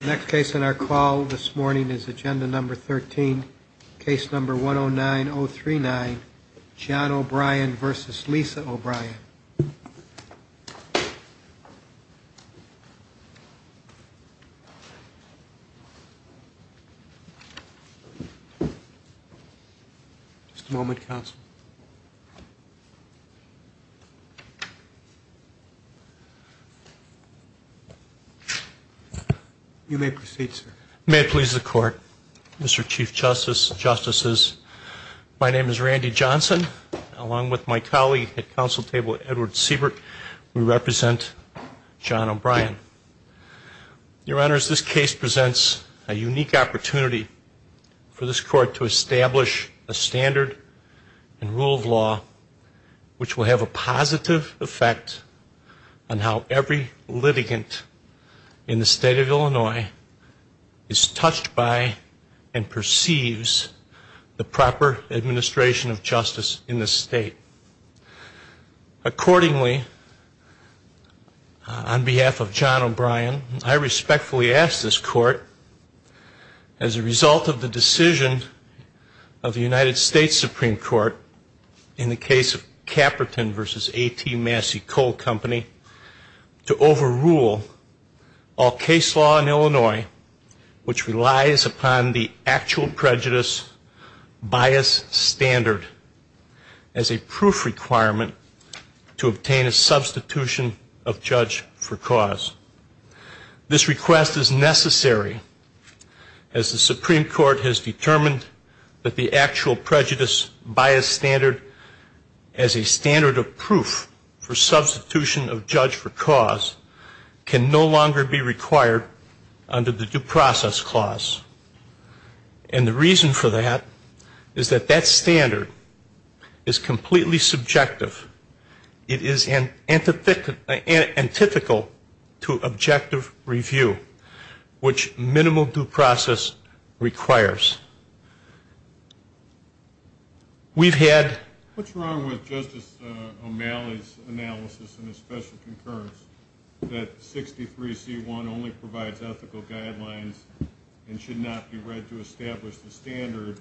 Next case on our call this morning is agenda number 13, case number 109039, John O'Brien v. Lisa O'Brien. Just a moment, counsel. You may proceed, sir. May it please the court, Mr. Chief Justice, Justices, my name is Randy Johnson. Along with my colleague at counsel table, Edward Siebert, we represent John O'Brien. Your Honors, this case presents a unique opportunity for this court to establish a standard and rule of law which will have a positive effect on how every litigant in the state of Illinois is touched by and perceives the proper administration of justice in this state. Accordingly, on behalf of John O'Brien, I respectfully ask this court, as a result of the decision of the United States Supreme Court in the case of Caperton v. A.T. Massey Coal Company, to overrule all case law in Illinois which relies upon the actual prejudice bias standard as a proof requirement to obtain a substitution of judge for cause. This request is necessary as the Supreme Court has determined that the actual prejudice bias standard as a standard of proof for substitution of judge for cause can no longer be required under the due process clause. And the reason for that is that that standard is completely subjective. It is antithetical to objective review, which minimal due process requires. We've had... What's wrong with Justice O'Malley's analysis and his special concurrence that 63C1 only provides ethical guidelines and should not be read to establish the standard,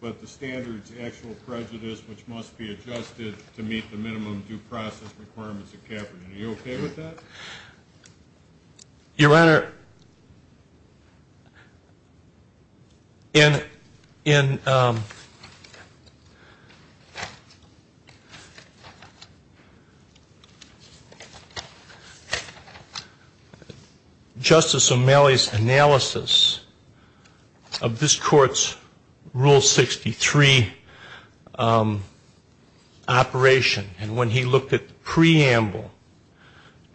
but the standard's actual prejudice, which must be adjusted to meet the minimum due process requirements of Caperton. Are you okay with that? Your Honor, in... Justice O'Malley's analysis of this Court's Rule 63 operation, and when he looked at the preamble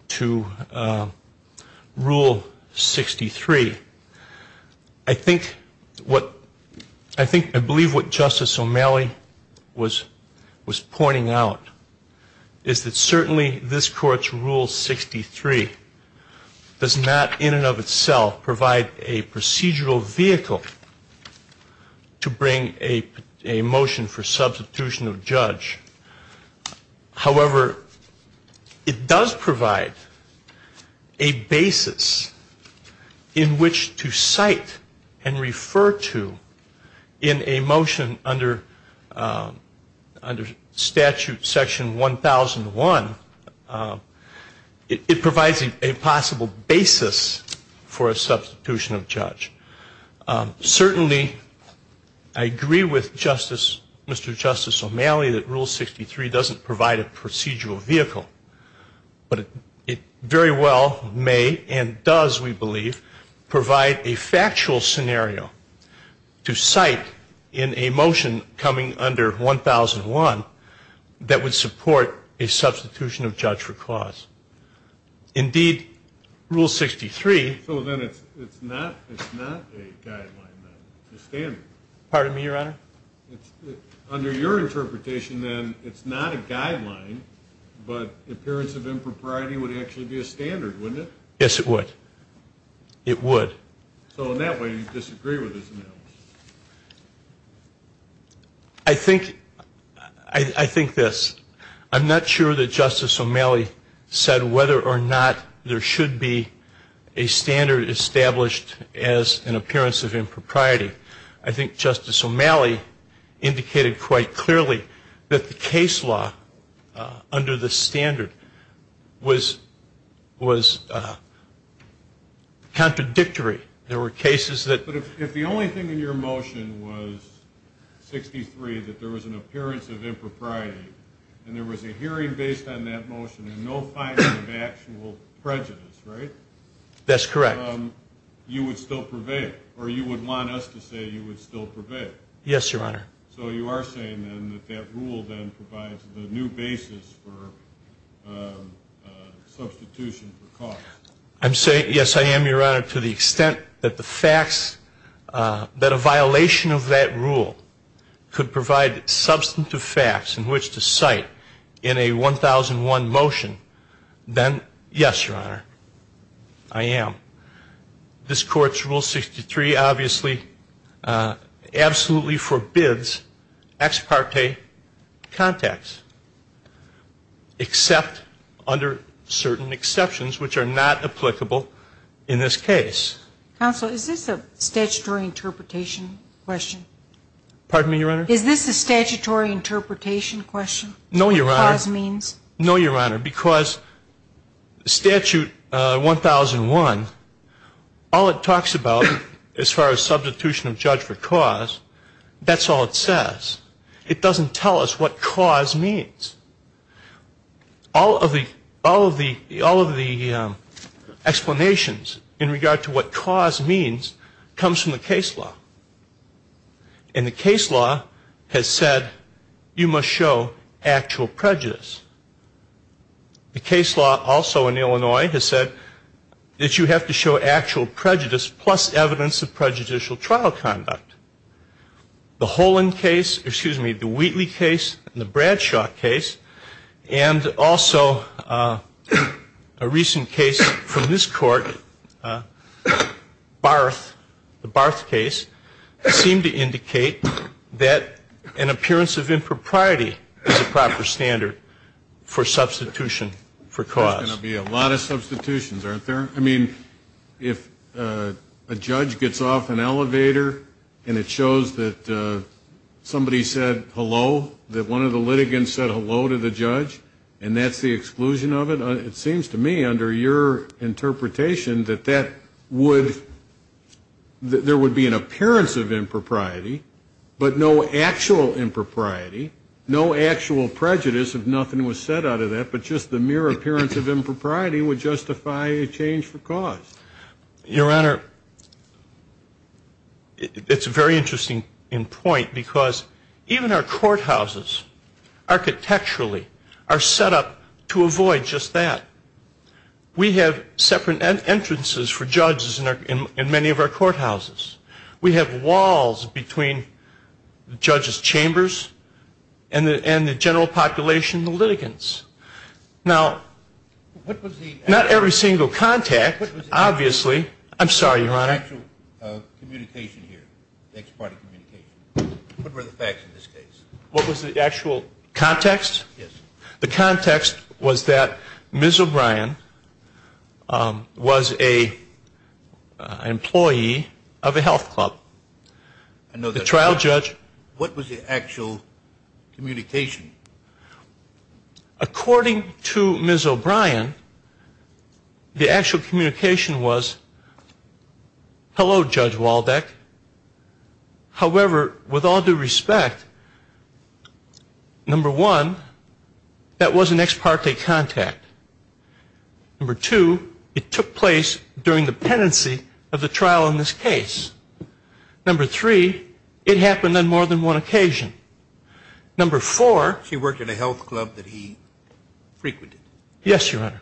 to Rule 63, I think what... was pointing out is that certainly this Court's Rule 63 does not in and of itself provide a procedural vehicle to bring a motion for substitution of judge. However, it does provide a basis in which to cite and refer to in a motion under statute section 1001. It provides a possible basis for a substitution of judge. Certainly, I agree with Justice... Mr. Justice O'Malley that Rule 63 doesn't provide a procedural vehicle, but it very well may and does, we believe, provide a factual scenario to cite in a motion coming under 1001 that would support a substitution of judge for clause. Indeed, Rule 63... is not a guideline, then. It's a standard. Pardon me, Your Honor? Under your interpretation, then, it's not a guideline, but the appearance of impropriety would actually be a standard, wouldn't it? Yes, it would. It would. So in that way, you disagree with his analysis? I think... I think this. I'm not sure that Justice O'Malley said whether or not there should be a standard established as an appearance of impropriety. I think Justice O'Malley indicated quite clearly that the case law under the standard was contradictory. There were cases that... and there was a hearing based on that motion and no finding of actual prejudice, right? That's correct. You would still purvey it, or you would want us to say you would still purvey it? Yes, Your Honor. So you are saying, then, that that rule then provides the new basis for substitution for clause? Yes, I am, Your Honor, to the extent that the facts... that a violation of that rule could provide substantive facts in which to cite in a 1001 motion, then, yes, Your Honor, I am. This Court's Rule 63 obviously absolutely forbids ex parte contacts, except under certain exceptions which are not applicable in this case. Counsel, is this a statutory interpretation question? Pardon me, Your Honor? Is this a statutory interpretation question? No, Your Honor. What clause means? No, Your Honor, because Statute 1001, all it talks about as far as substitution of judge for clause, that's all it says. It doesn't tell us what clause means. All of the explanations in regard to what clause means comes from the case law. And the case law has said you must show actual prejudice. The case law also in Illinois has said that you have to show actual prejudice plus evidence of prejudicial trial conduct. The Wheatley case and the Bradshaw case and also a recent case from this court, the Barth case, seem to indicate that an appearance of impropriety is a proper standard for substitution for clause. There's going to be a lot of substitutions, aren't there? I mean, if a judge gets off an elevator and it shows that somebody said hello, that one of the litigants said hello to the judge and that's the exclusion of it, it seems to me under your interpretation that there would be an appearance of impropriety, but no actual impropriety, no actual prejudice if nothing was said out of that, but just the mere appearance of impropriety would justify a change for cause. Your Honor, it's a very interesting point because even our courthouses architecturally are set up to avoid just that. We have separate entrances for judges in many of our courthouses. We have walls between the judges' chambers and the general population, the litigants. Now, not every single contact, obviously. I'm sorry, Your Honor. What was the actual communication here, the ex parte communication? What were the facts in this case? What was the actual context? Yes. The context was that Ms. O'Brien was an employee of a health club. The trial judge. What was the actual communication? According to Ms. O'Brien, the actual communication was, hello, Judge Waldeck. However, with all due respect, number one, that was an ex parte contact. Number two, it took place during the pendency of the trial in this case. Number three, it happened on more than one occasion. Number four. She worked at a health club that he frequented. Yes, Your Honor.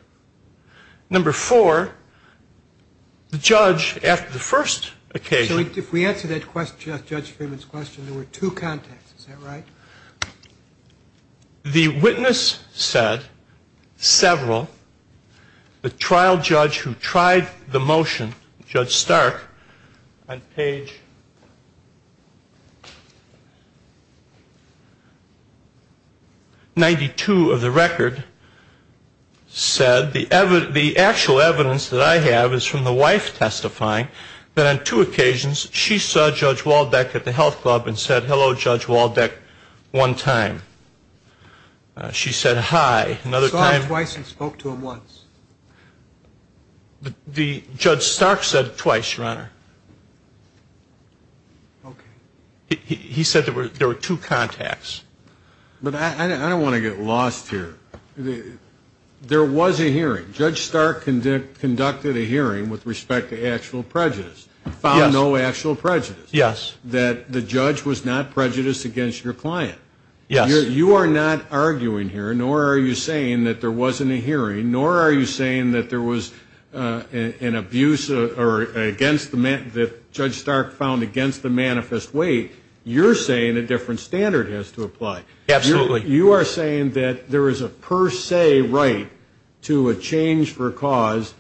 Number four, the judge, after the first occasion. So if we answer that question, Judge Freeman's question, there were two contacts. Is that right? The witness said several. The trial judge who tried the motion, Judge Stark, on page 92 of the record, said the actual evidence that I have is from the wife testifying, that on two occasions she saw Judge Waldeck at the health club and said hello, Judge Waldeck, one time. She said hi. I saw him twice and spoke to him once. Judge Stark said twice, Your Honor. Okay. He said there were two contacts. But I don't want to get lost here. There was a hearing. Judge Stark conducted a hearing with respect to actual prejudice, found no actual prejudice. Yes. That the judge was not prejudiced against your client. Yes. You are not arguing here, nor are you saying that there wasn't a hearing, nor are you saying that there was an abuse against the man that Judge Stark found against the manifest weight. You're saying a different standard has to apply. Absolutely. You are saying that there is a per se right to a change for cause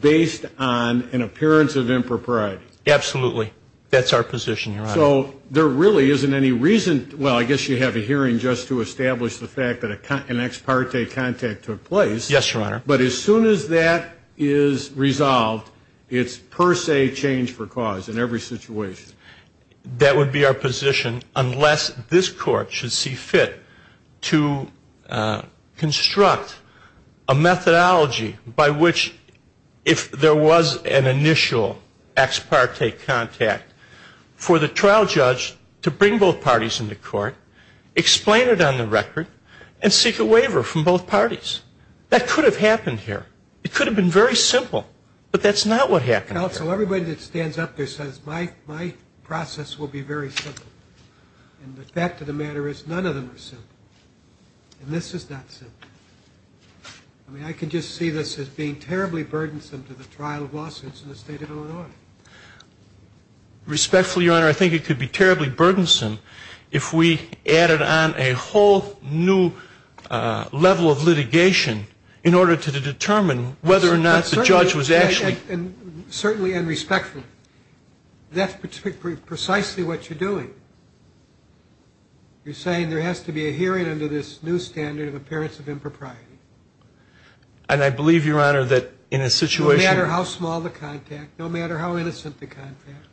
based on an appearance of impropriety. Absolutely. That's our position, Your Honor. So there really isn't any reason. Well, I guess you have a hearing just to establish the fact that an ex parte contact took place. Yes, Your Honor. But as soon as that is resolved, it's per se change for cause in every situation. That would be our position unless this court should see fit to construct a methodology by which if there was an initial ex parte contact for the trial judge to bring both parties into court, explain it on the record, and seek a waiver from both parties. That could have happened here. It could have been very simple, but that's not what happened here. Well, so everybody that stands up there says my process will be very simple. And the fact of the matter is none of them are simple. And this is not simple. I mean, I can just see this as being terribly burdensome to the trial of lawsuits in the state of Illinois. Respectfully, Your Honor, I think it could be terribly burdensome if we added on a whole new level of litigation in order to determine whether or not the judge was actually doing what he was supposed to be doing. And that's what we're doing. And certainly and respectfully, that's precisely what you're doing. You're saying there has to be a hearing under this new standard of appearance of impropriety. And I believe, Your Honor, that in a situation of... No matter how small the contact, no matter how innocent the contact.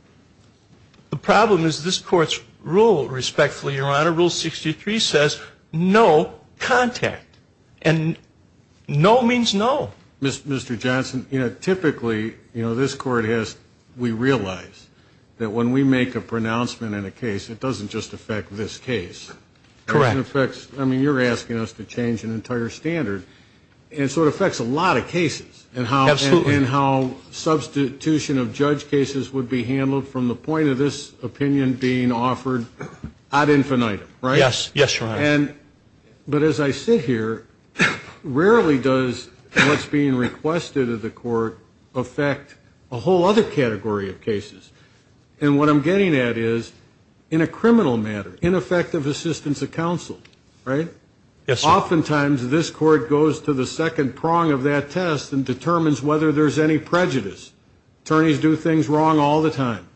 The problem is this Court's rule, respectfully, Your Honor, Rule 63 says no contact. And no means no. Mr. Johnson, you know, typically, you know, this Court has, we realize that when we make a pronouncement in a case, it doesn't just affect this case. Correct. I mean, you're asking us to change an entire standard. And so it affects a lot of cases. Absolutely. And how substitution of judge cases would be handled from the point of this opinion being offered ad infinitum. Right? Yes, Your Honor. But as I sit here, rarely does what's being requested of the Court affect a whole other category of cases. And what I'm getting at is, in a criminal matter, ineffective assistance of counsel, right? Yes, sir. Oftentimes, this Court goes to the second prong of that test and determines whether there's any prejudice. Attorneys do things wrong all the time.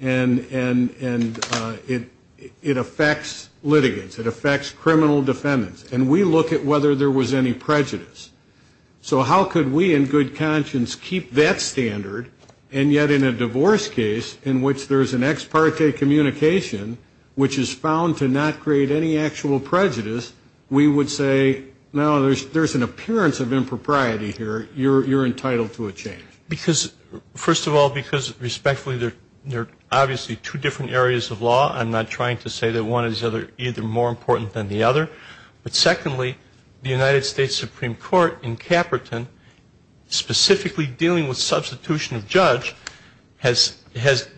And it affects litigants. It affects criminal defendants. And we look at whether there was any prejudice. So how could we in good conscience keep that standard, and yet in a divorce case, in which there's an ex parte communication, which is found to not create any actual prejudice, we would say, no, there's an appearance of impropriety here. You're entitled to a change. Because, first of all, because respectfully, there are obviously two different areas of law. I'm not trying to say that one is either more important than the other. But secondly, the United States Supreme Court in Caperton, specifically dealing with substitution of judge, has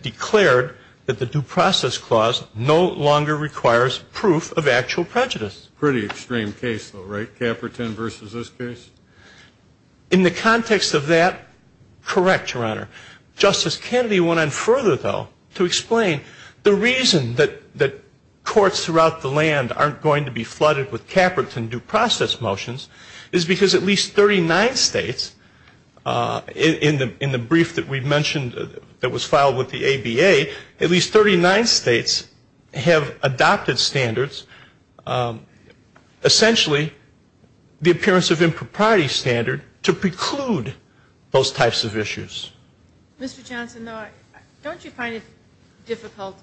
declared that the Due Process Clause no longer requires proof of actual prejudice. Pretty extreme case, though, right? Caperton versus this case? In the context of that, correct, Your Honor. Justice Kennedy went on further, though, to explain the reason that courts throughout the land aren't going to be flooded with Caperton due process motions is because at least 39 states, in the brief that we mentioned that was filed with the ABA, at least 39 states have adopted standards, essentially the appearance of impropriety standard to preclude those types of issues. Mr. Johnson, don't you find it difficult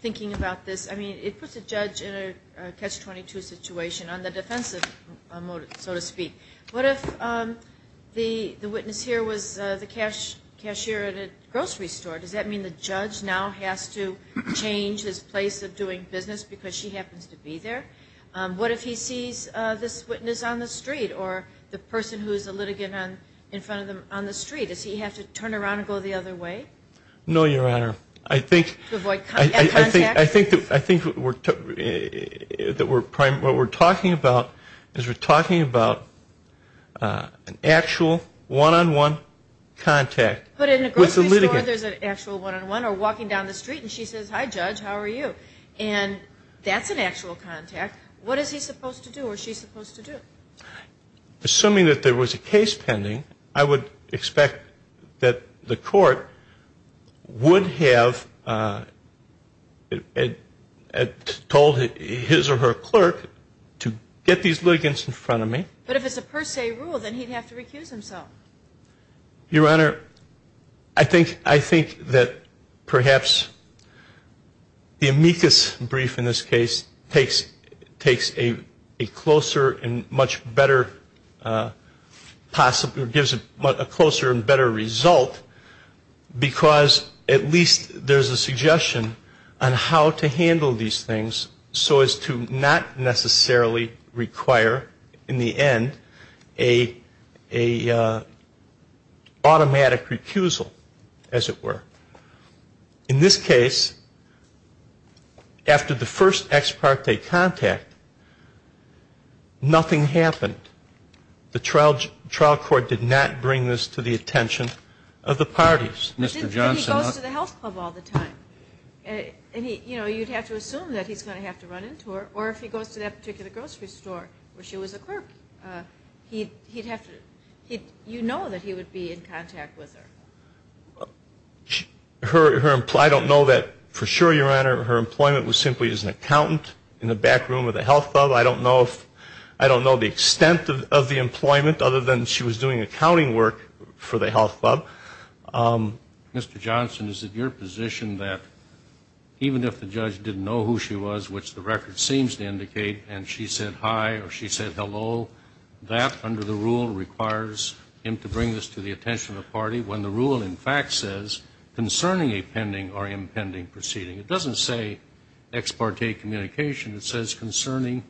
thinking about this? I mean, it puts a judge in a catch-22 situation on the defensive, so to speak. What if the witness here was the cashier at a grocery store? Does that mean the judge now has to change his place of doing business because she happens to be there? What if he sees this witness on the street or the person who is a litigant in front of them on the street? Does he have to turn around and go the other way? No, Your Honor. To avoid contact? I think what we're talking about is we're talking about an actual one-on-one contact with the litigant. But in a grocery store there's an actual one-on-one or walking down the street and she says, hi, Judge, how are you? And that's an actual contact. What is he supposed to do or she supposed to do? Assuming that there was a case pending, I would expect that the court would have told his or her clerk to get these litigants in front of me. But if it's a per se rule, then he'd have to recuse himself. Your Honor, I think that perhaps the amicus brief in this case takes a closer and much better possible or gives a closer and better result because at least there's a suggestion on how to handle these things so as to not necessarily require in the end an automatic recusal, as it were. In this case, after the first ex parte contact, nothing happened. The trial court did not bring this to the attention of the parties. He goes to the health club all the time. You'd have to assume that he's going to have to run into her or if he goes to that particular grocery store where she was a clerk, you know that he would be in contact with her. I don't know that for sure, Your Honor. Her employment was simply as an accountant in the back room of the health club. I don't know the extent of the employment other than she was doing accounting work for the health club. Mr. Johnson, is it your position that even if the judge didn't know who she was, which the record seems to indicate, and she said hi or she said hello, that under the rule requires him to bring this to the attention of the party when the rule in fact says concerning a pending or impending proceeding. It doesn't say ex parte communication. It says concerning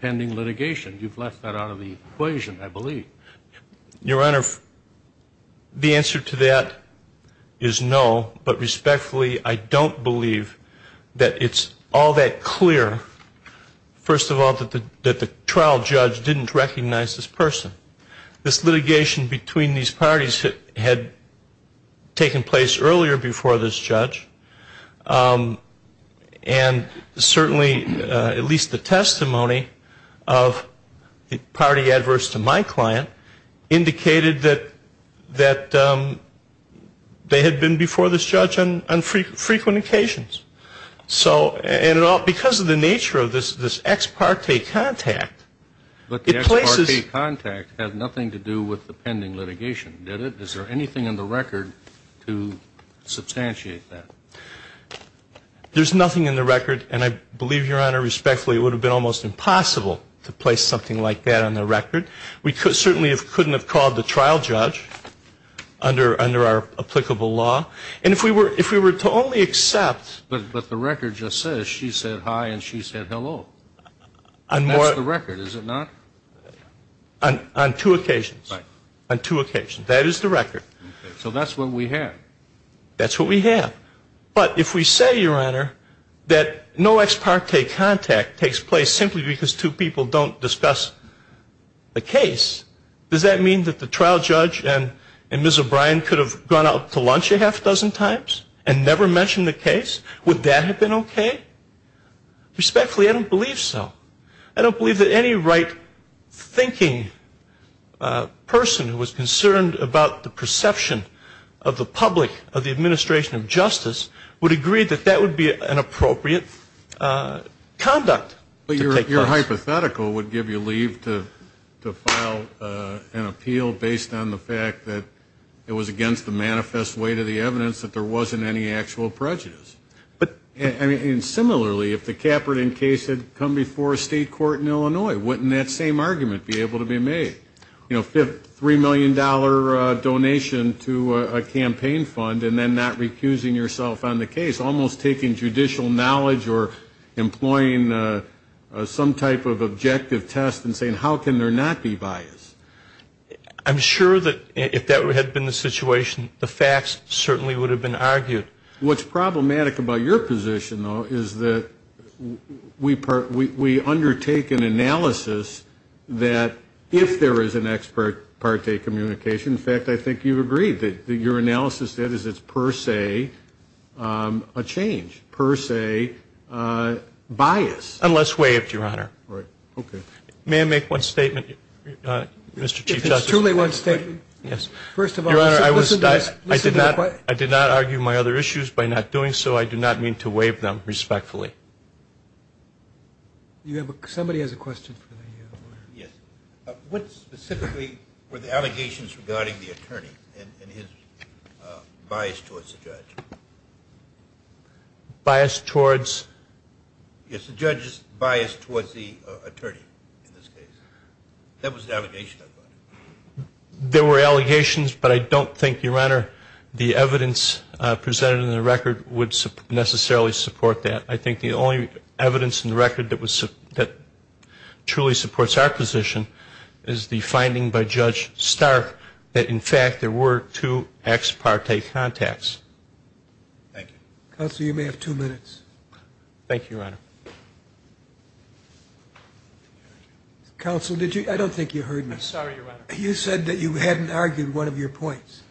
pending litigation. You've left that out of the equation, I believe. Your Honor, the answer to that is no, but respectfully, I don't believe that it's all that clear, first of all, that the trial judge didn't recognize this person. This litigation between these parties had taken place earlier before this judge, and certainly at least the testimony of the party adverse to my client indicated that they had been before this judge on frequent occasions. So because of the nature of this ex parte contact, it places the... But the ex parte contact had nothing to do with the pending litigation, did it? Is there anything in the record to substantiate that? There's nothing in the record, and I believe, Your Honor, respectfully, it would have been almost impossible to place something like that on the record. We certainly couldn't have called the trial judge under our applicable law. And if we were to only accept... But the record just says she said hi and she said hello. That's the record, is it not? On two occasions. Right. On two occasions. That is the record. So that's what we have. That's what we have. But if we say, Your Honor, that no ex parte contact takes place simply because two people don't discuss the case, does that mean that the trial judge and Ms. O'Brien could have gone out to lunch a half dozen times and never mentioned the case? Would that have been okay? Respectfully, I don't believe so. I don't believe that any right-thinking person who was concerned about the perception of the public, of the administration of justice, would agree that that would be an appropriate conduct. Your hypothetical would give you leave to file an appeal based on the fact that it was against the manifest way to the evidence that there wasn't any actual prejudice. And similarly, if the Kaepernick case had come before a state court in Illinois, wouldn't that same argument be able to be made? You know, $3 million donation to a campaign fund and then not recusing yourself on the case, almost taking judicial knowledge or employing some type of objective test and saying, how can there not be bias? I'm sure that if that had been the situation, the facts certainly would have been argued. What's problematic about your position, though, is that we undertake an analysis that if there is an ex parte communication, in fact, I think you've agreed that your analysis is that it's per se a change, per se bias. Unless waived, Your Honor. Right. Okay. May I make one statement, Mr. Chief Justice? If it's truly one statement? Yes. First of all, listen to the question. I did not argue my other issues by not doing so. I do not mean to waive them respectfully. Somebody has a question for the lawyer. Yes. What specifically were the allegations regarding the attorney and his bias towards the judge? Bias towards? Yes, the judge's bias towards the attorney in this case. That was the allegation. There were allegations, but I don't think, Your Honor, the evidence presented in the record would necessarily support that. I think the only evidence in the record that truly supports our position is the finding by Judge Stark that, in fact, there were two ex parte contacts. Thank you. Thank you, Your Honor. Counsel, I don't think you heard me. I'm sorry, Your Honor. You said that you hadn't argued one of your points.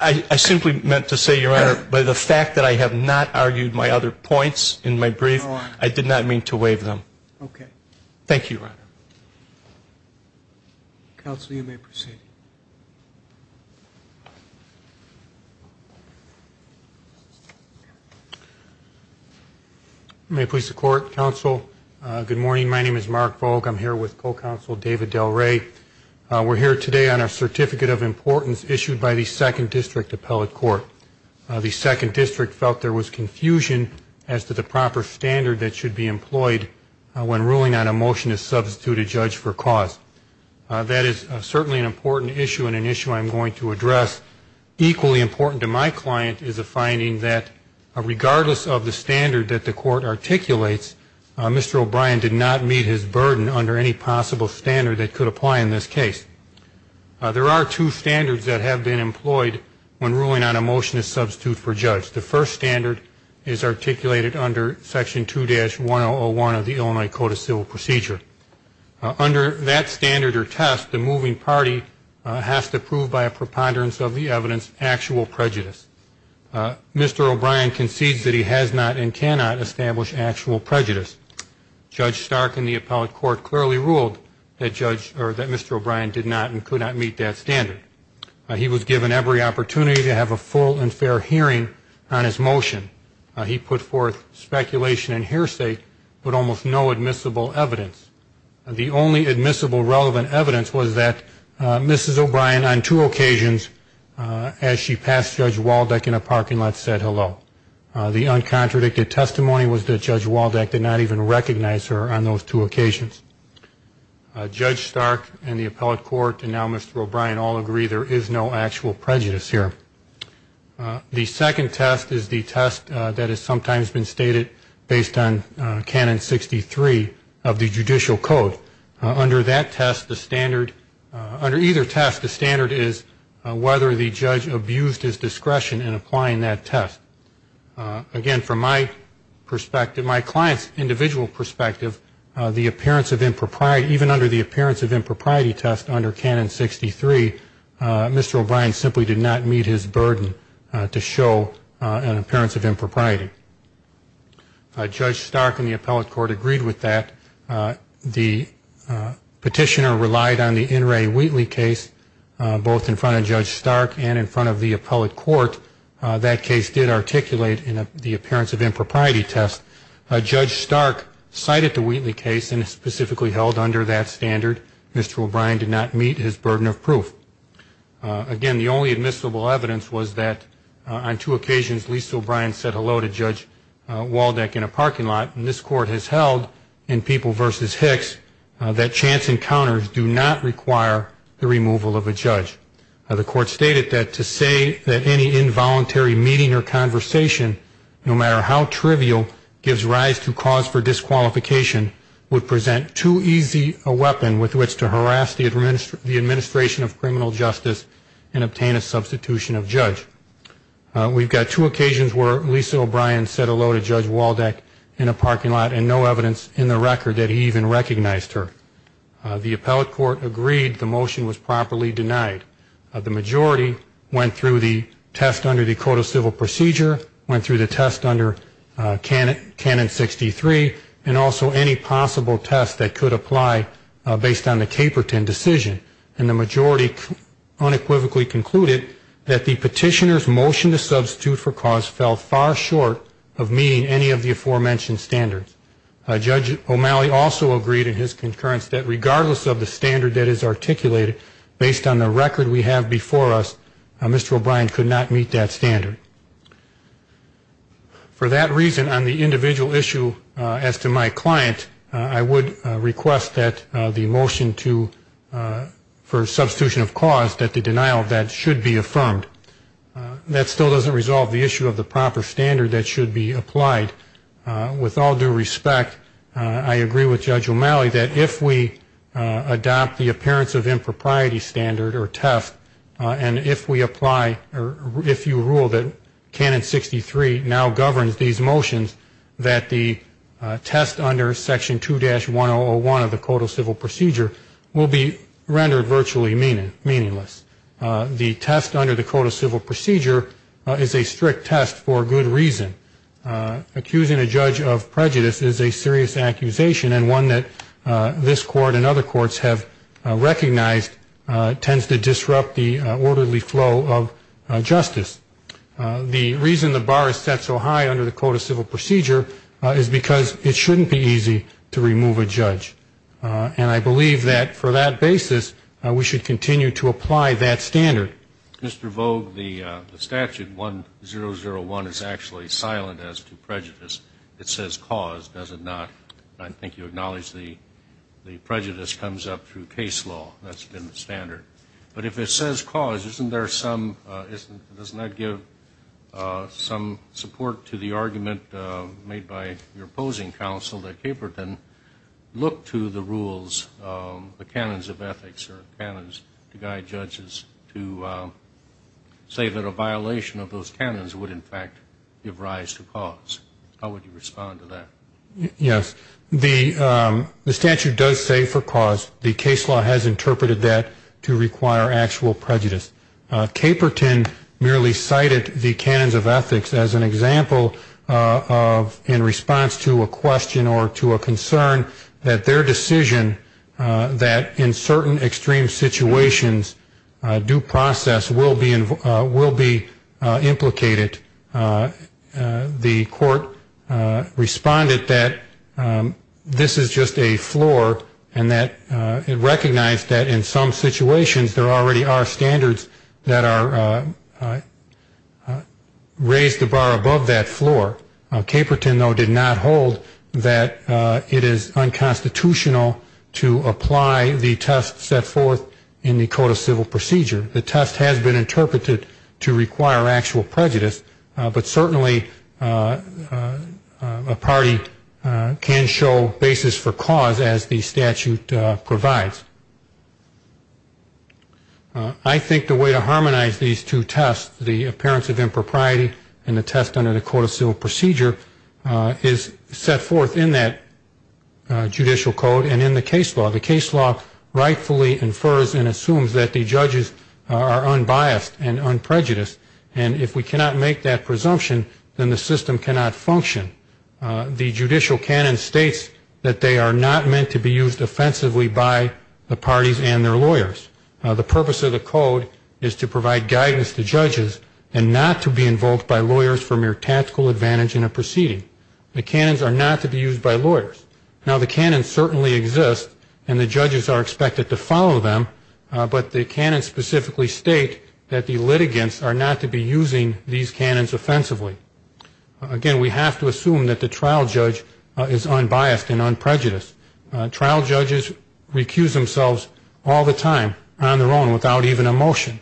I simply meant to say, Your Honor, by the fact that I have not argued my other points in my brief, I did not mean to waive them. Okay. Thank you, Your Honor. Counsel, you may proceed. May it please the Court, Counsel, good morning. My name is Mark Vogt. I'm here with Co-Counsel David Del Rey. We're here today on a Certificate of Importance issued by the Second District Appellate Court. The Second District felt there was confusion as to the proper standard that should be employed when ruling on a motion to substitute a judge for cause. That is certainly an important point. It's an important issue and an issue I'm going to address. Equally important to my client is a finding that, regardless of the standard that the Court articulates, Mr. O'Brien did not meet his burden under any possible standard that could apply in this case. There are two standards that have been employed when ruling on a motion to substitute for judge. The first standard is articulated under Section 2-101 of the Illinois Code of Civil Procedure. Under that standard or test, the moving party has to prove by a preponderance of the evidence actual prejudice. Mr. O'Brien concedes that he has not and cannot establish actual prejudice. Judge Stark in the Appellate Court clearly ruled that Mr. O'Brien did not and could not meet that standard. He was given every opportunity to have a full and fair hearing on his motion. He put forth speculation and hearsay, but almost no admissible evidence. The only admissible relevant evidence was that Mrs. O'Brien on two occasions, as she passed Judge Waldeck in a parking lot, said hello. The uncontradicted testimony was that Judge Waldeck did not even recognize her on those two occasions. Judge Stark and the Appellate Court and now Mr. O'Brien all agree there is no actual prejudice here. The second test is the test that has sometimes been stated based on Canon 63 of the Judicial Code. Under that test, the standard, under either test, the standard is whether the judge abused his discretion in applying that test. Again, from my perspective, my client's individual perspective, the appearance of impropriety, under Canon 63, Mr. O'Brien simply did not meet his burden to show an appearance of impropriety. Judge Stark and the Appellate Court agreed with that. The petitioner relied on the In re Wheatley case, both in front of Judge Stark and in front of the Appellate Court. That case did articulate the appearance of impropriety test. Judge Stark cited the Wheatley case and specifically held under that standard Mr. O'Brien did not meet his burden of proof. Again, the only admissible evidence was that on two occasions Lisa O'Brien said hello to Judge Waldeck in a parking lot. And this Court has held in People v. Hicks that chance encounters do not require the removal of a judge. The Court stated that to say that any involuntary meeting or conversation, no matter how trivial, gives rise to cause for disqualification would present too easy a weapon with which to harass the administration of criminal justice and obtain a substitution of judge. We've got two occasions where Lisa O'Brien said hello to Judge Waldeck in a parking lot and no evidence in the record that he even recognized her. The Appellate Court agreed the motion was properly denied. The majority went through the test under the Code of Civil Procedure, went through the test under Canon 63, and also any possible test that could apply based on the Caperton decision. And the majority unequivocally concluded that the petitioner's motion to substitute for cause fell far short of meeting any of the aforementioned standards. Judge O'Malley also agreed in his concurrence that regardless of the standard that is articulated, based on the record we have before us, Mr. O'Brien could not meet that standard. For that reason, on the individual issue as to my client, I would request that the motion for substitution of cause, that the denial of that should be affirmed. That still doesn't resolve the issue of the proper standard that should be applied. With all due respect, I agree with Judge O'Malley that if we adopt the appearance of impropriety standard or test, and if we apply or if you rule that Canon 63 now governs these motions, that the test under Section 2-1001 of the Code of Civil Procedure will be rendered virtually meaningless. The test under the Code of Civil Procedure is a strict test for good reason. Accusing a judge of prejudice is a serious accusation, and one that this Court and other courts have recognized tends to disrupt the orderly flow of justice. The reason the bar is set so high under the Code of Civil Procedure is because it shouldn't be easy to remove a judge. And I believe that for that basis, we should continue to apply that standard. Okay. Mr. Vogt, the statute 1001 is actually silent as to prejudice. It says cause, does it not? I think you acknowledge the prejudice comes up through case law. That's been the standard. But if it says cause, isn't there some – doesn't that give some support to the argument made by your opposing counsel that Caperton look to the rules, the canons of ethics or canons to guide judges to say that a violation of those canons would in fact give rise to cause? How would you respond to that? Yes. The statute does say for cause. The case law has interpreted that to require actual prejudice. Caperton merely cited the canons of ethics as an example in response to a question or to a concern that their decision that in certain extreme situations due process will be implicated. The court responded that this is just a floor and that it recognized that in some situations there already are standards that are raised the bar above that floor. Caperton, though, did not hold that it is unconstitutional to apply the test set forth in the Code of Civil Procedure. The test has been interpreted to require actual prejudice, but certainly a party can show basis for cause as the statute provides. I think the way to harmonize these two tests, the appearance of impropriety and the test under the Code of Civil Procedure, is set forth in that judicial code and in the case law. The case law rightfully infers and assumes that the judges are unbiased and unprejudiced, and if we cannot make that presumption, then the system cannot function. The judicial canon states that they are not meant to be used offensively by the parties and their lawyers. The purpose of the code is to provide guidance to judges and not to be invoked by lawyers for mere tactical advantage in a proceeding. The canons are not to be used by lawyers. Now, the canons certainly exist and the judges are expected to follow them, but the canons specifically state that the litigants are not to be using these canons offensively. Again, we have to assume that the trial judge is unbiased and unprejudiced. Trial judges recuse themselves all the time on their own without even a motion.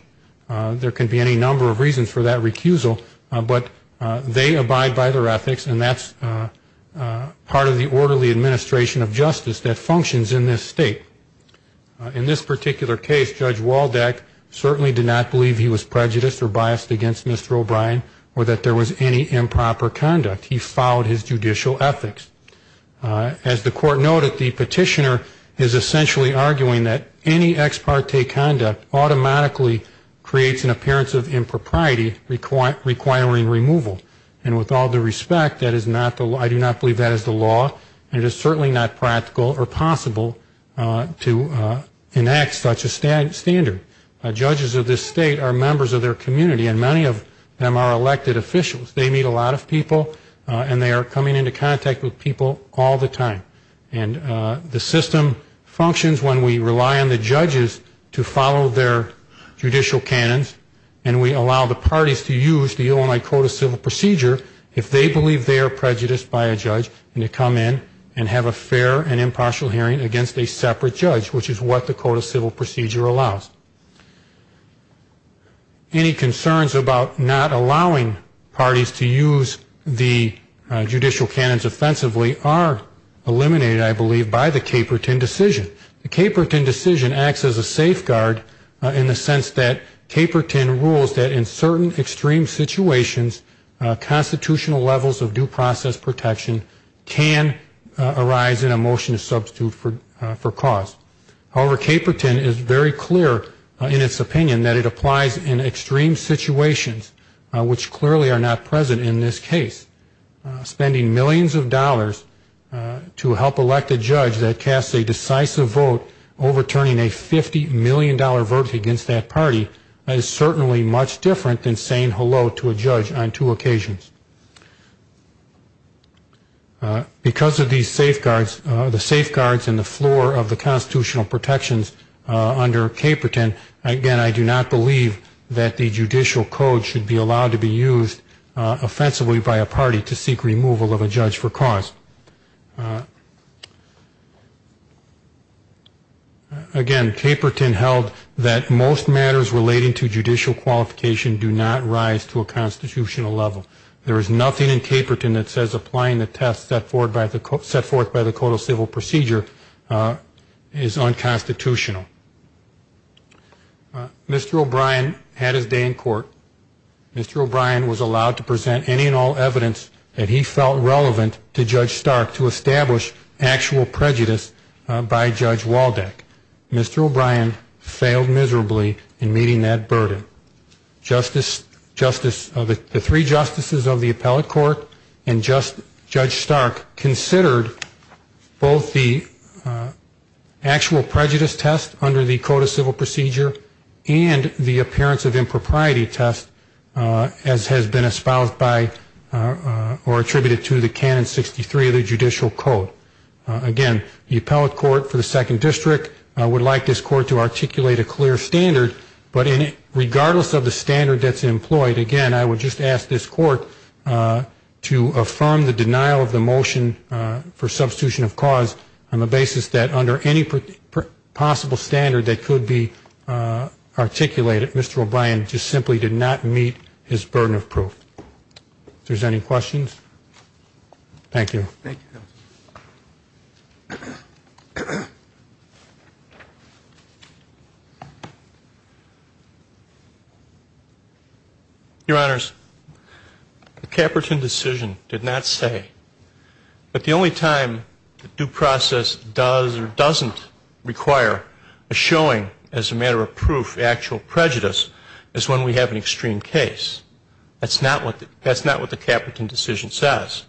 There can be any number of reasons for that recusal, but they abide by their ethics, and that's part of the orderly administration of justice that functions in this state. In this particular case, Judge Waldeck certainly did not believe he was prejudiced or biased against Mr. O'Brien or that there was any improper conduct. He followed his judicial ethics. As the court noted, the petitioner is essentially arguing that any ex parte conduct automatically creates an appearance of impropriety requiring removal, and with all due respect, I do not believe that is the law, and it is certainly not practical or possible to enact such a standard. Judges of this state are members of their community, and many of them are elected officials. They meet a lot of people, and they are coming into contact with people all the time, and the system functions when we rely on the judges to follow their judicial canons and we allow the parties to use the Illinois Code of Civil Procedure if they believe they are prejudiced by a judge and they come in and have a fair and impartial hearing against a separate judge, which is what the Code of Civil Procedure allows. Any concerns about not allowing parties to use the judicial canons offensively are eliminated, I believe, by the Caperton decision. The Caperton decision acts as a safeguard in the sense that Caperton rules that in certain extreme situations, constitutional levels of due process protection can arise in a motion to substitute for cause. However, Caperton is very clear in its opinion that it applies in extreme situations, which clearly are not present in this case. Spending millions of dollars to help elect a judge that casts a decisive vote overturning a $50 million verdict against that party is certainly much different than saying hello to a judge on two occasions. Because of these safeguards, the safeguards and the floor of the constitutional protections under Caperton, again, I do not believe that the judicial code should be allowed to be used offensively by a party to seek removal of a judge for cause. Again, Caperton held that most matters relating to judicial qualification do not rise to a constitutional level. There is nothing in Caperton that says applying the test set forth by the codal civil procedure is unconstitutional. Mr. O'Brien had his day in court. Mr. O'Brien was allowed to present any and all evidence that he felt relevant to Judge Stark to establish actual prejudice by Judge Waldeck. Mr. O'Brien failed miserably in meeting that burden. The three justices of the appellate court and Judge Stark considered both the actual prejudice test under the codal civil procedure and the appearance of impropriety test as has been espoused by or attributed to the canon 63 of the judicial code. Again, the appellate court for the second district would like this court to articulate a clear standard, but regardless of the standard that's employed, again, I would just ask this court to affirm the denial of the motion for substitution of cause on the basis that under any possible standard that could be articulated, Mr. O'Brien just simply did not meet his burden of proof. If there's any questions? Thank you. Thank you, counsel. Your Honors, the Caperton decision did not say that the only time due process does or doesn't require a showing as a matter of proof of actual prejudice is when we have an extreme case. That's not what the Caperton decision says.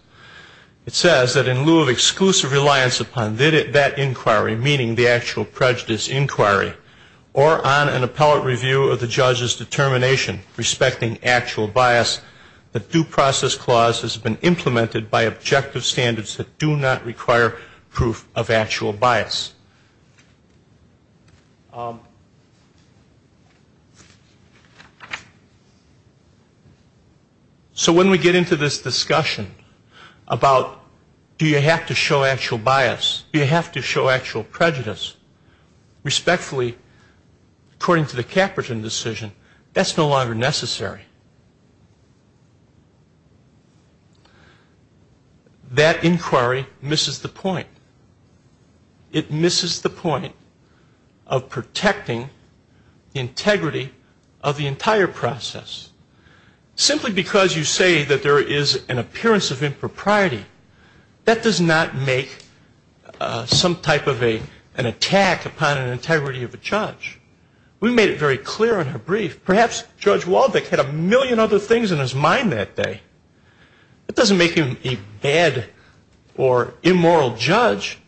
It says that in lieu of exclusive reliance upon that inquiry, meaning the actual prejudice inquiry, or on an appellate review of the judge's determination respecting actual bias, the due process clause has been implemented by objective standards that do not require proof of actual bias. So when we get into this discussion about do you have to show actual bias, do you have to show actual prejudice, respectfully, according to the Caperton decision, that's no longer necessary. That inquiry misses the point. It misses the point of protecting integrity of the entire process. Simply because you say that there is an appearance of impropriety, that does not make some type of an attack upon an integrity of a judge. We made it very clear in her brief. Perhaps Judge Waldek had a million other things in his mind that day. That doesn't make him a bad or immoral judge.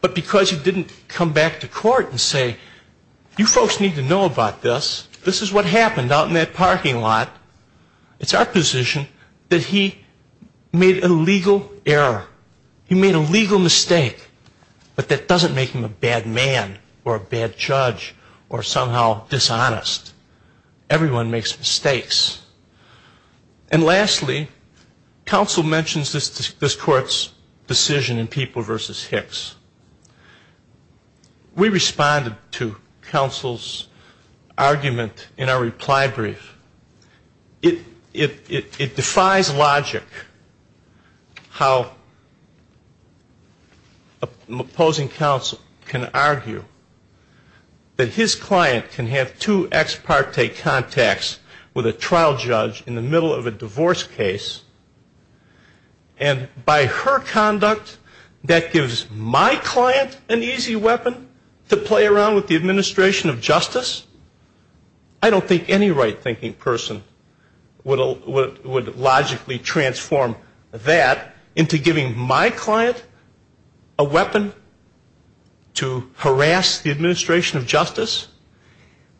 But because you didn't come back to court and say, you folks need to know about this. This is what happened out in that parking lot. It's our position that he made a legal error. He made a legal mistake. But that doesn't make him a bad man or a bad judge or somehow dishonest. Everyone makes mistakes. And lastly, counsel mentions this court's decision in People v. Hicks. We responded to counsel's argument in our reply brief. It defies logic how an opposing counsel can argue that his client can have two ex parte contacts with a trial judge in the middle of a divorce case. And by her conduct, that gives my client an easy weapon to play around with the administration of justice. I don't think any right thinking person would logically transform that into giving my client a weapon to harass the administration of justice.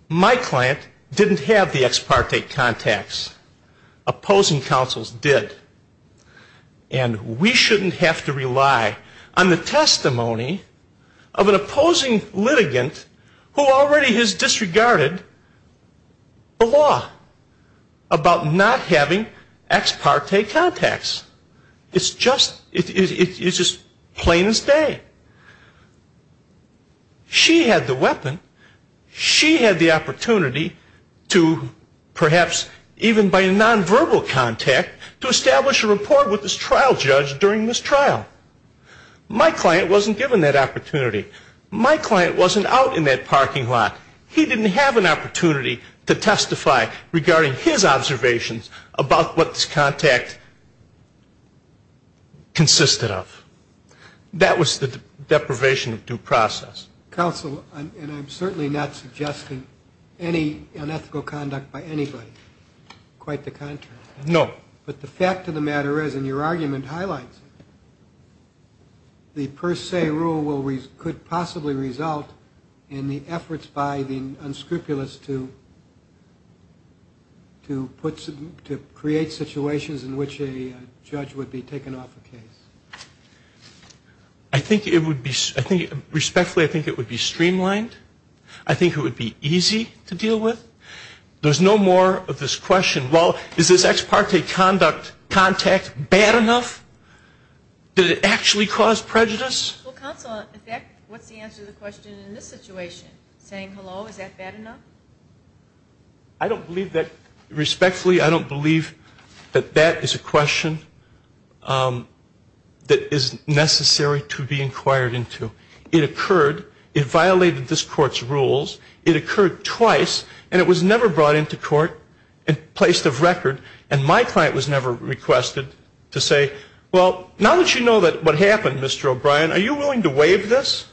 My client didn't have the ex parte contacts. Opposing counsels did. And we shouldn't have to rely on the testimony of an opposing litigant who already has disregarded the law about not having ex parte contacts. It's just plain as day. She had the weapon. She had the opportunity to perhaps even by nonverbal contact to establish a report with this trial judge during this trial. My client wasn't given that opportunity. My client wasn't out in that parking lot. He didn't have an opportunity to testify regarding his observations about what this contact consisted of. That was the deprivation of due process. Counsel, and I'm certainly not suggesting any unethical conduct by anybody. Quite the contrary. No. But the fact of the matter is, and your argument highlights it, the per se rule could possibly result in the efforts by the unscrupulous to create situations in which a judge would be taken off a case. I think it would be, respectfully, I think it would be streamlined. I think it would be easy to deal with. There's no more of this question, well, is this ex parte contact bad enough? Did it actually cause prejudice? Well, counsel, in fact, what's the answer to the question in this situation? Saying hello, is that bad enough? I don't believe that, respectfully, I don't believe that that is a question. That is necessary to be inquired into. It occurred. It violated this court's rules. It occurred twice. And it was never brought into court and placed of record. And my client was never requested to say, well, now that you know what happened, Mr. O'Brien, are you willing to waive this?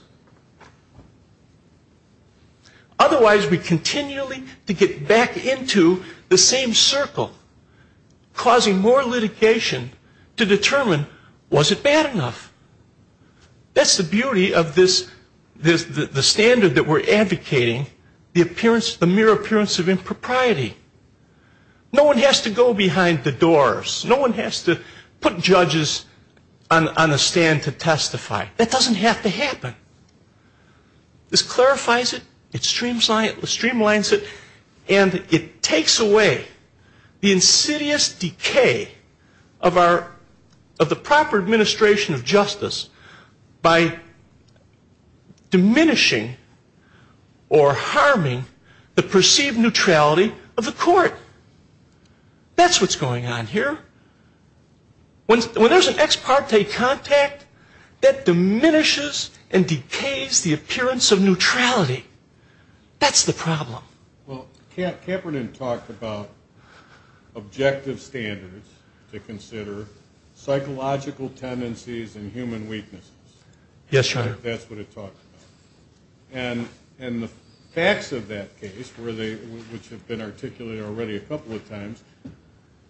Otherwise, we continually get back into the same circle, causing more litigation to determine, was it bad enough? That's the beauty of this, the standard that we're advocating, the mere appearance of impropriety. No one has to go behind the doors. No one has to put judges on a stand to testify. That doesn't have to happen. This clarifies it. It streamlines it. And it takes away the insidious decay of the proper administration of justice by diminishing or harming the perceived neutrality of the court. That's what's going on here. When there's an ex parte contact, that diminishes and decays the appearance of neutrality. That's the problem. Well, Kaepernick talked about objective standards to consider psychological tendencies and human weaknesses. Yes, Your Honor. That's what he talked about. And the facts of that case, which have been articulated already a couple of times,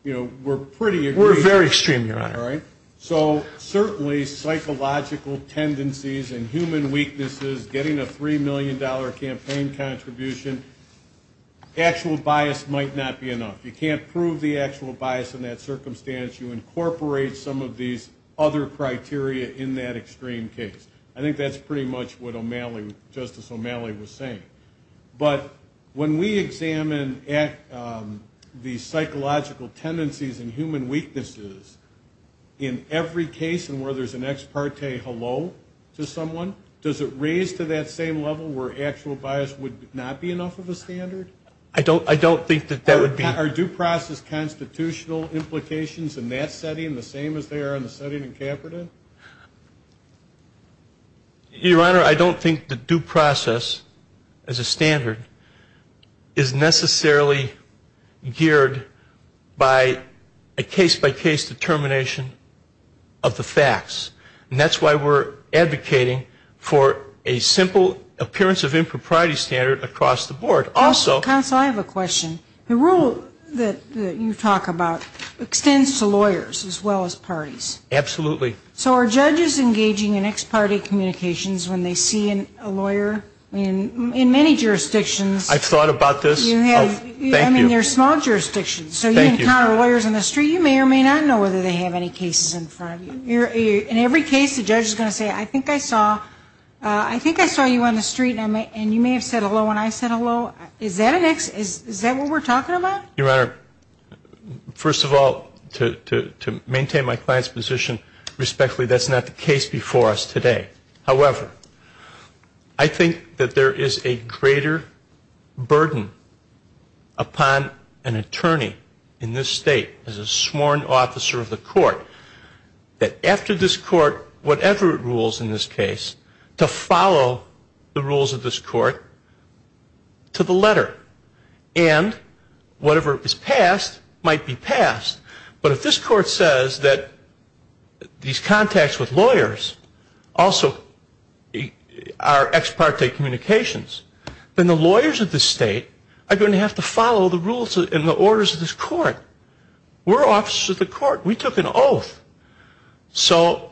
you know, we're pretty aggrieved. We're very extreme, Your Honor. All right? So certainly, psychological tendencies and human weaknesses, getting a $3 million campaign contribution, actual bias might not be enough. You can't prove the actual bias in that circumstance. You incorporate some of these other criteria in that extreme case. I think that's pretty much what Justice O'Malley was saying. But when we examine the psychological tendencies and human weaknesses in every case and where there's an ex parte hello to someone, does it raise to that same level where actual bias would not be enough of a standard? I don't think that that would be. Are due process constitutional implications in that setting the same as they are in the setting in Kaepernick? Your Honor, I don't think the due process as a standard is necessarily geared by a case-by-case determination of the facts. And that's why we're advocating for a simple appearance of impropriety standard across the board. Counsel, I have a question. The rule that you talk about extends to lawyers as well as parties. Absolutely. So are judges engaging in ex parte communications when they see a lawyer in many jurisdictions? I've thought about this. Thank you. I mean, they're small jurisdictions. So you encounter lawyers in the street, you may or may not know whether they have any cases in front of you. In every case, the judge is going to say, I think I saw you on the street, and you may have said hello when I said hello. Is that what we're talking about? Your Honor, first of all, to maintain my client's position respectfully, that's not the case before us today. However, I think that there is a greater burden upon an attorney in this state, as a sworn officer of the court, that after this court, whatever it rules in this case, to follow the rules of this court to the letter. And whatever is passed might be passed. But if this court says that these contacts with lawyers also are ex parte communications, then the lawyers of this state are going to have to follow the rules and the orders of this court. We're officers of the court. We took an oath. So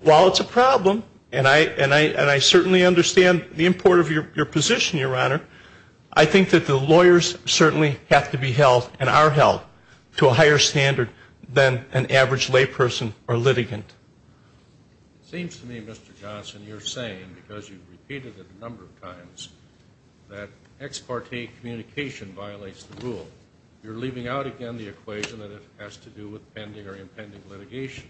while it's a problem, and I certainly understand the importance of your position, Your Honor, I think that the lawyers certainly have to be held and are held to a higher standard than an average layperson or litigant. It seems to me, Mr. Johnson, you're saying, because you've repeated it a number of times, that ex parte communication violates the rule. You're leaving out again the equation that it has to do with pending or impending litigation.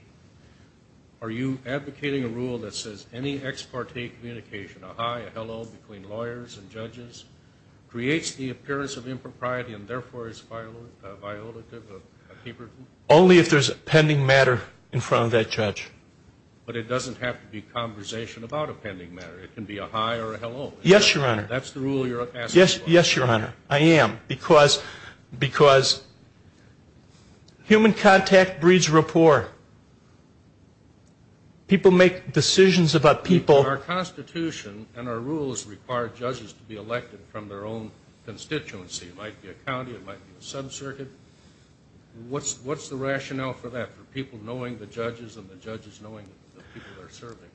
Are you advocating a rule that says any ex parte communication, a hi, a hello between lawyers and judges, creates the appearance of impropriety and therefore is violative of paper? Only if there's a pending matter in front of that judge. But it doesn't have to be conversation about a pending matter. It can be a hi or a hello. Yes, Your Honor. That's the rule you're asking for. Yes, Your Honor, I am. Because human contact breeds rapport. People make decisions about people. Our Constitution and our rules require judges to be elected from their own constituency. It might be a county. It might be a sub-circuit. What's the rationale for that, for people knowing the judges and the judges knowing the people they're serving?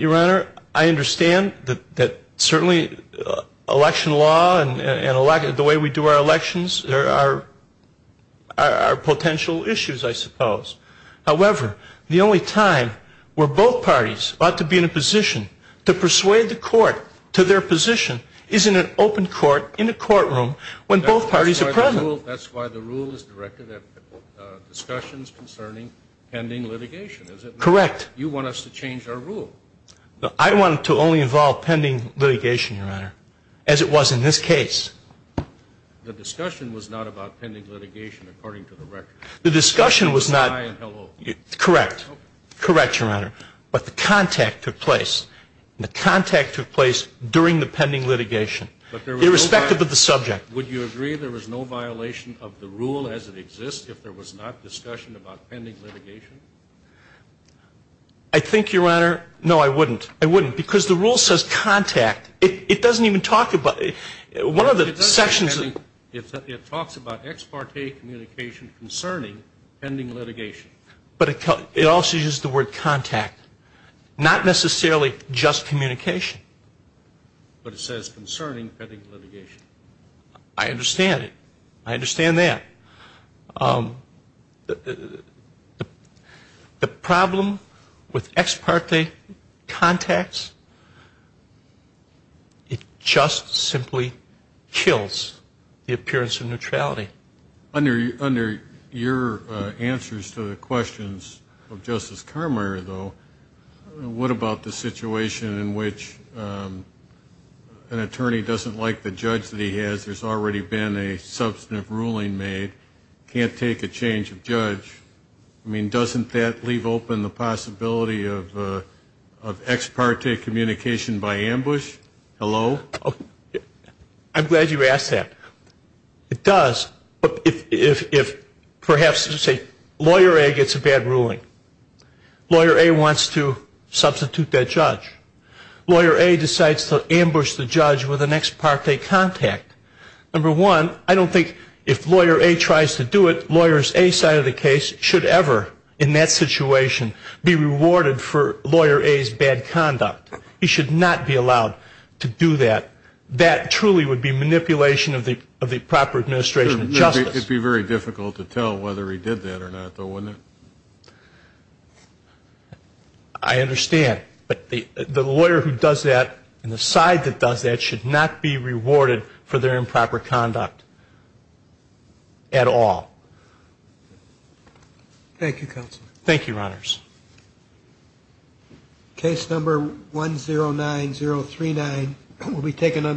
Your Honor, I understand that certainly election law and the way we do our elections are potential issues, I suppose. However, the only time where both parties ought to be in a position to persuade the court to their position is in an open court in a courtroom when both parties are present. That's why the rule is directed at discussions concerning pending litigation, is it not? Correct. You want us to change our rule. I want it to only involve pending litigation, Your Honor, as it was in this case. The discussion was not about pending litigation according to the record. The discussion was not. Hi and hello. Correct. Correct, Your Honor. But the contact took place. The contact took place during the pending litigation, irrespective of the subject. Would you agree there was no violation of the rule as it exists if there was not discussion about pending litigation? I think, Your Honor, no, I wouldn't. I wouldn't, because the rule says contact. It doesn't even talk about it. One of the sections of it talks about ex parte communication concerning pending litigation. But it also uses the word contact, not necessarily just communication. But it says concerning pending litigation. I understand it. I understand that. The problem with ex parte contacts, it just simply kills the appearance of neutrality. Under your answers to the questions of Justice Carmier, though, what about the situation in which an attorney doesn't like the judge that he has? There's already been a substantive ruling made. Can't take a change of judge. I mean, doesn't that leave open the possibility of ex parte communication by ambush? Hello? I'm glad you asked that. It does, if perhaps, say, Lawyer A gets a bad ruling. Lawyer A wants to substitute that judge. Lawyer A decides to ambush the judge with an ex parte contact. Number one, I don't think if Lawyer A tries to do it, Lawyer A's side of the case should ever, in that situation, be rewarded for Lawyer A's bad conduct. He should not be allowed to do that. That truly would be manipulation of the proper administration of justice. It would be very difficult to tell whether he did that or not, though, wouldn't it? I understand. But the lawyer who does that and the side that does that should not be rewarded for their improper conduct at all. Thank you, Your Honors. Case number 109039 will be taken under investigation.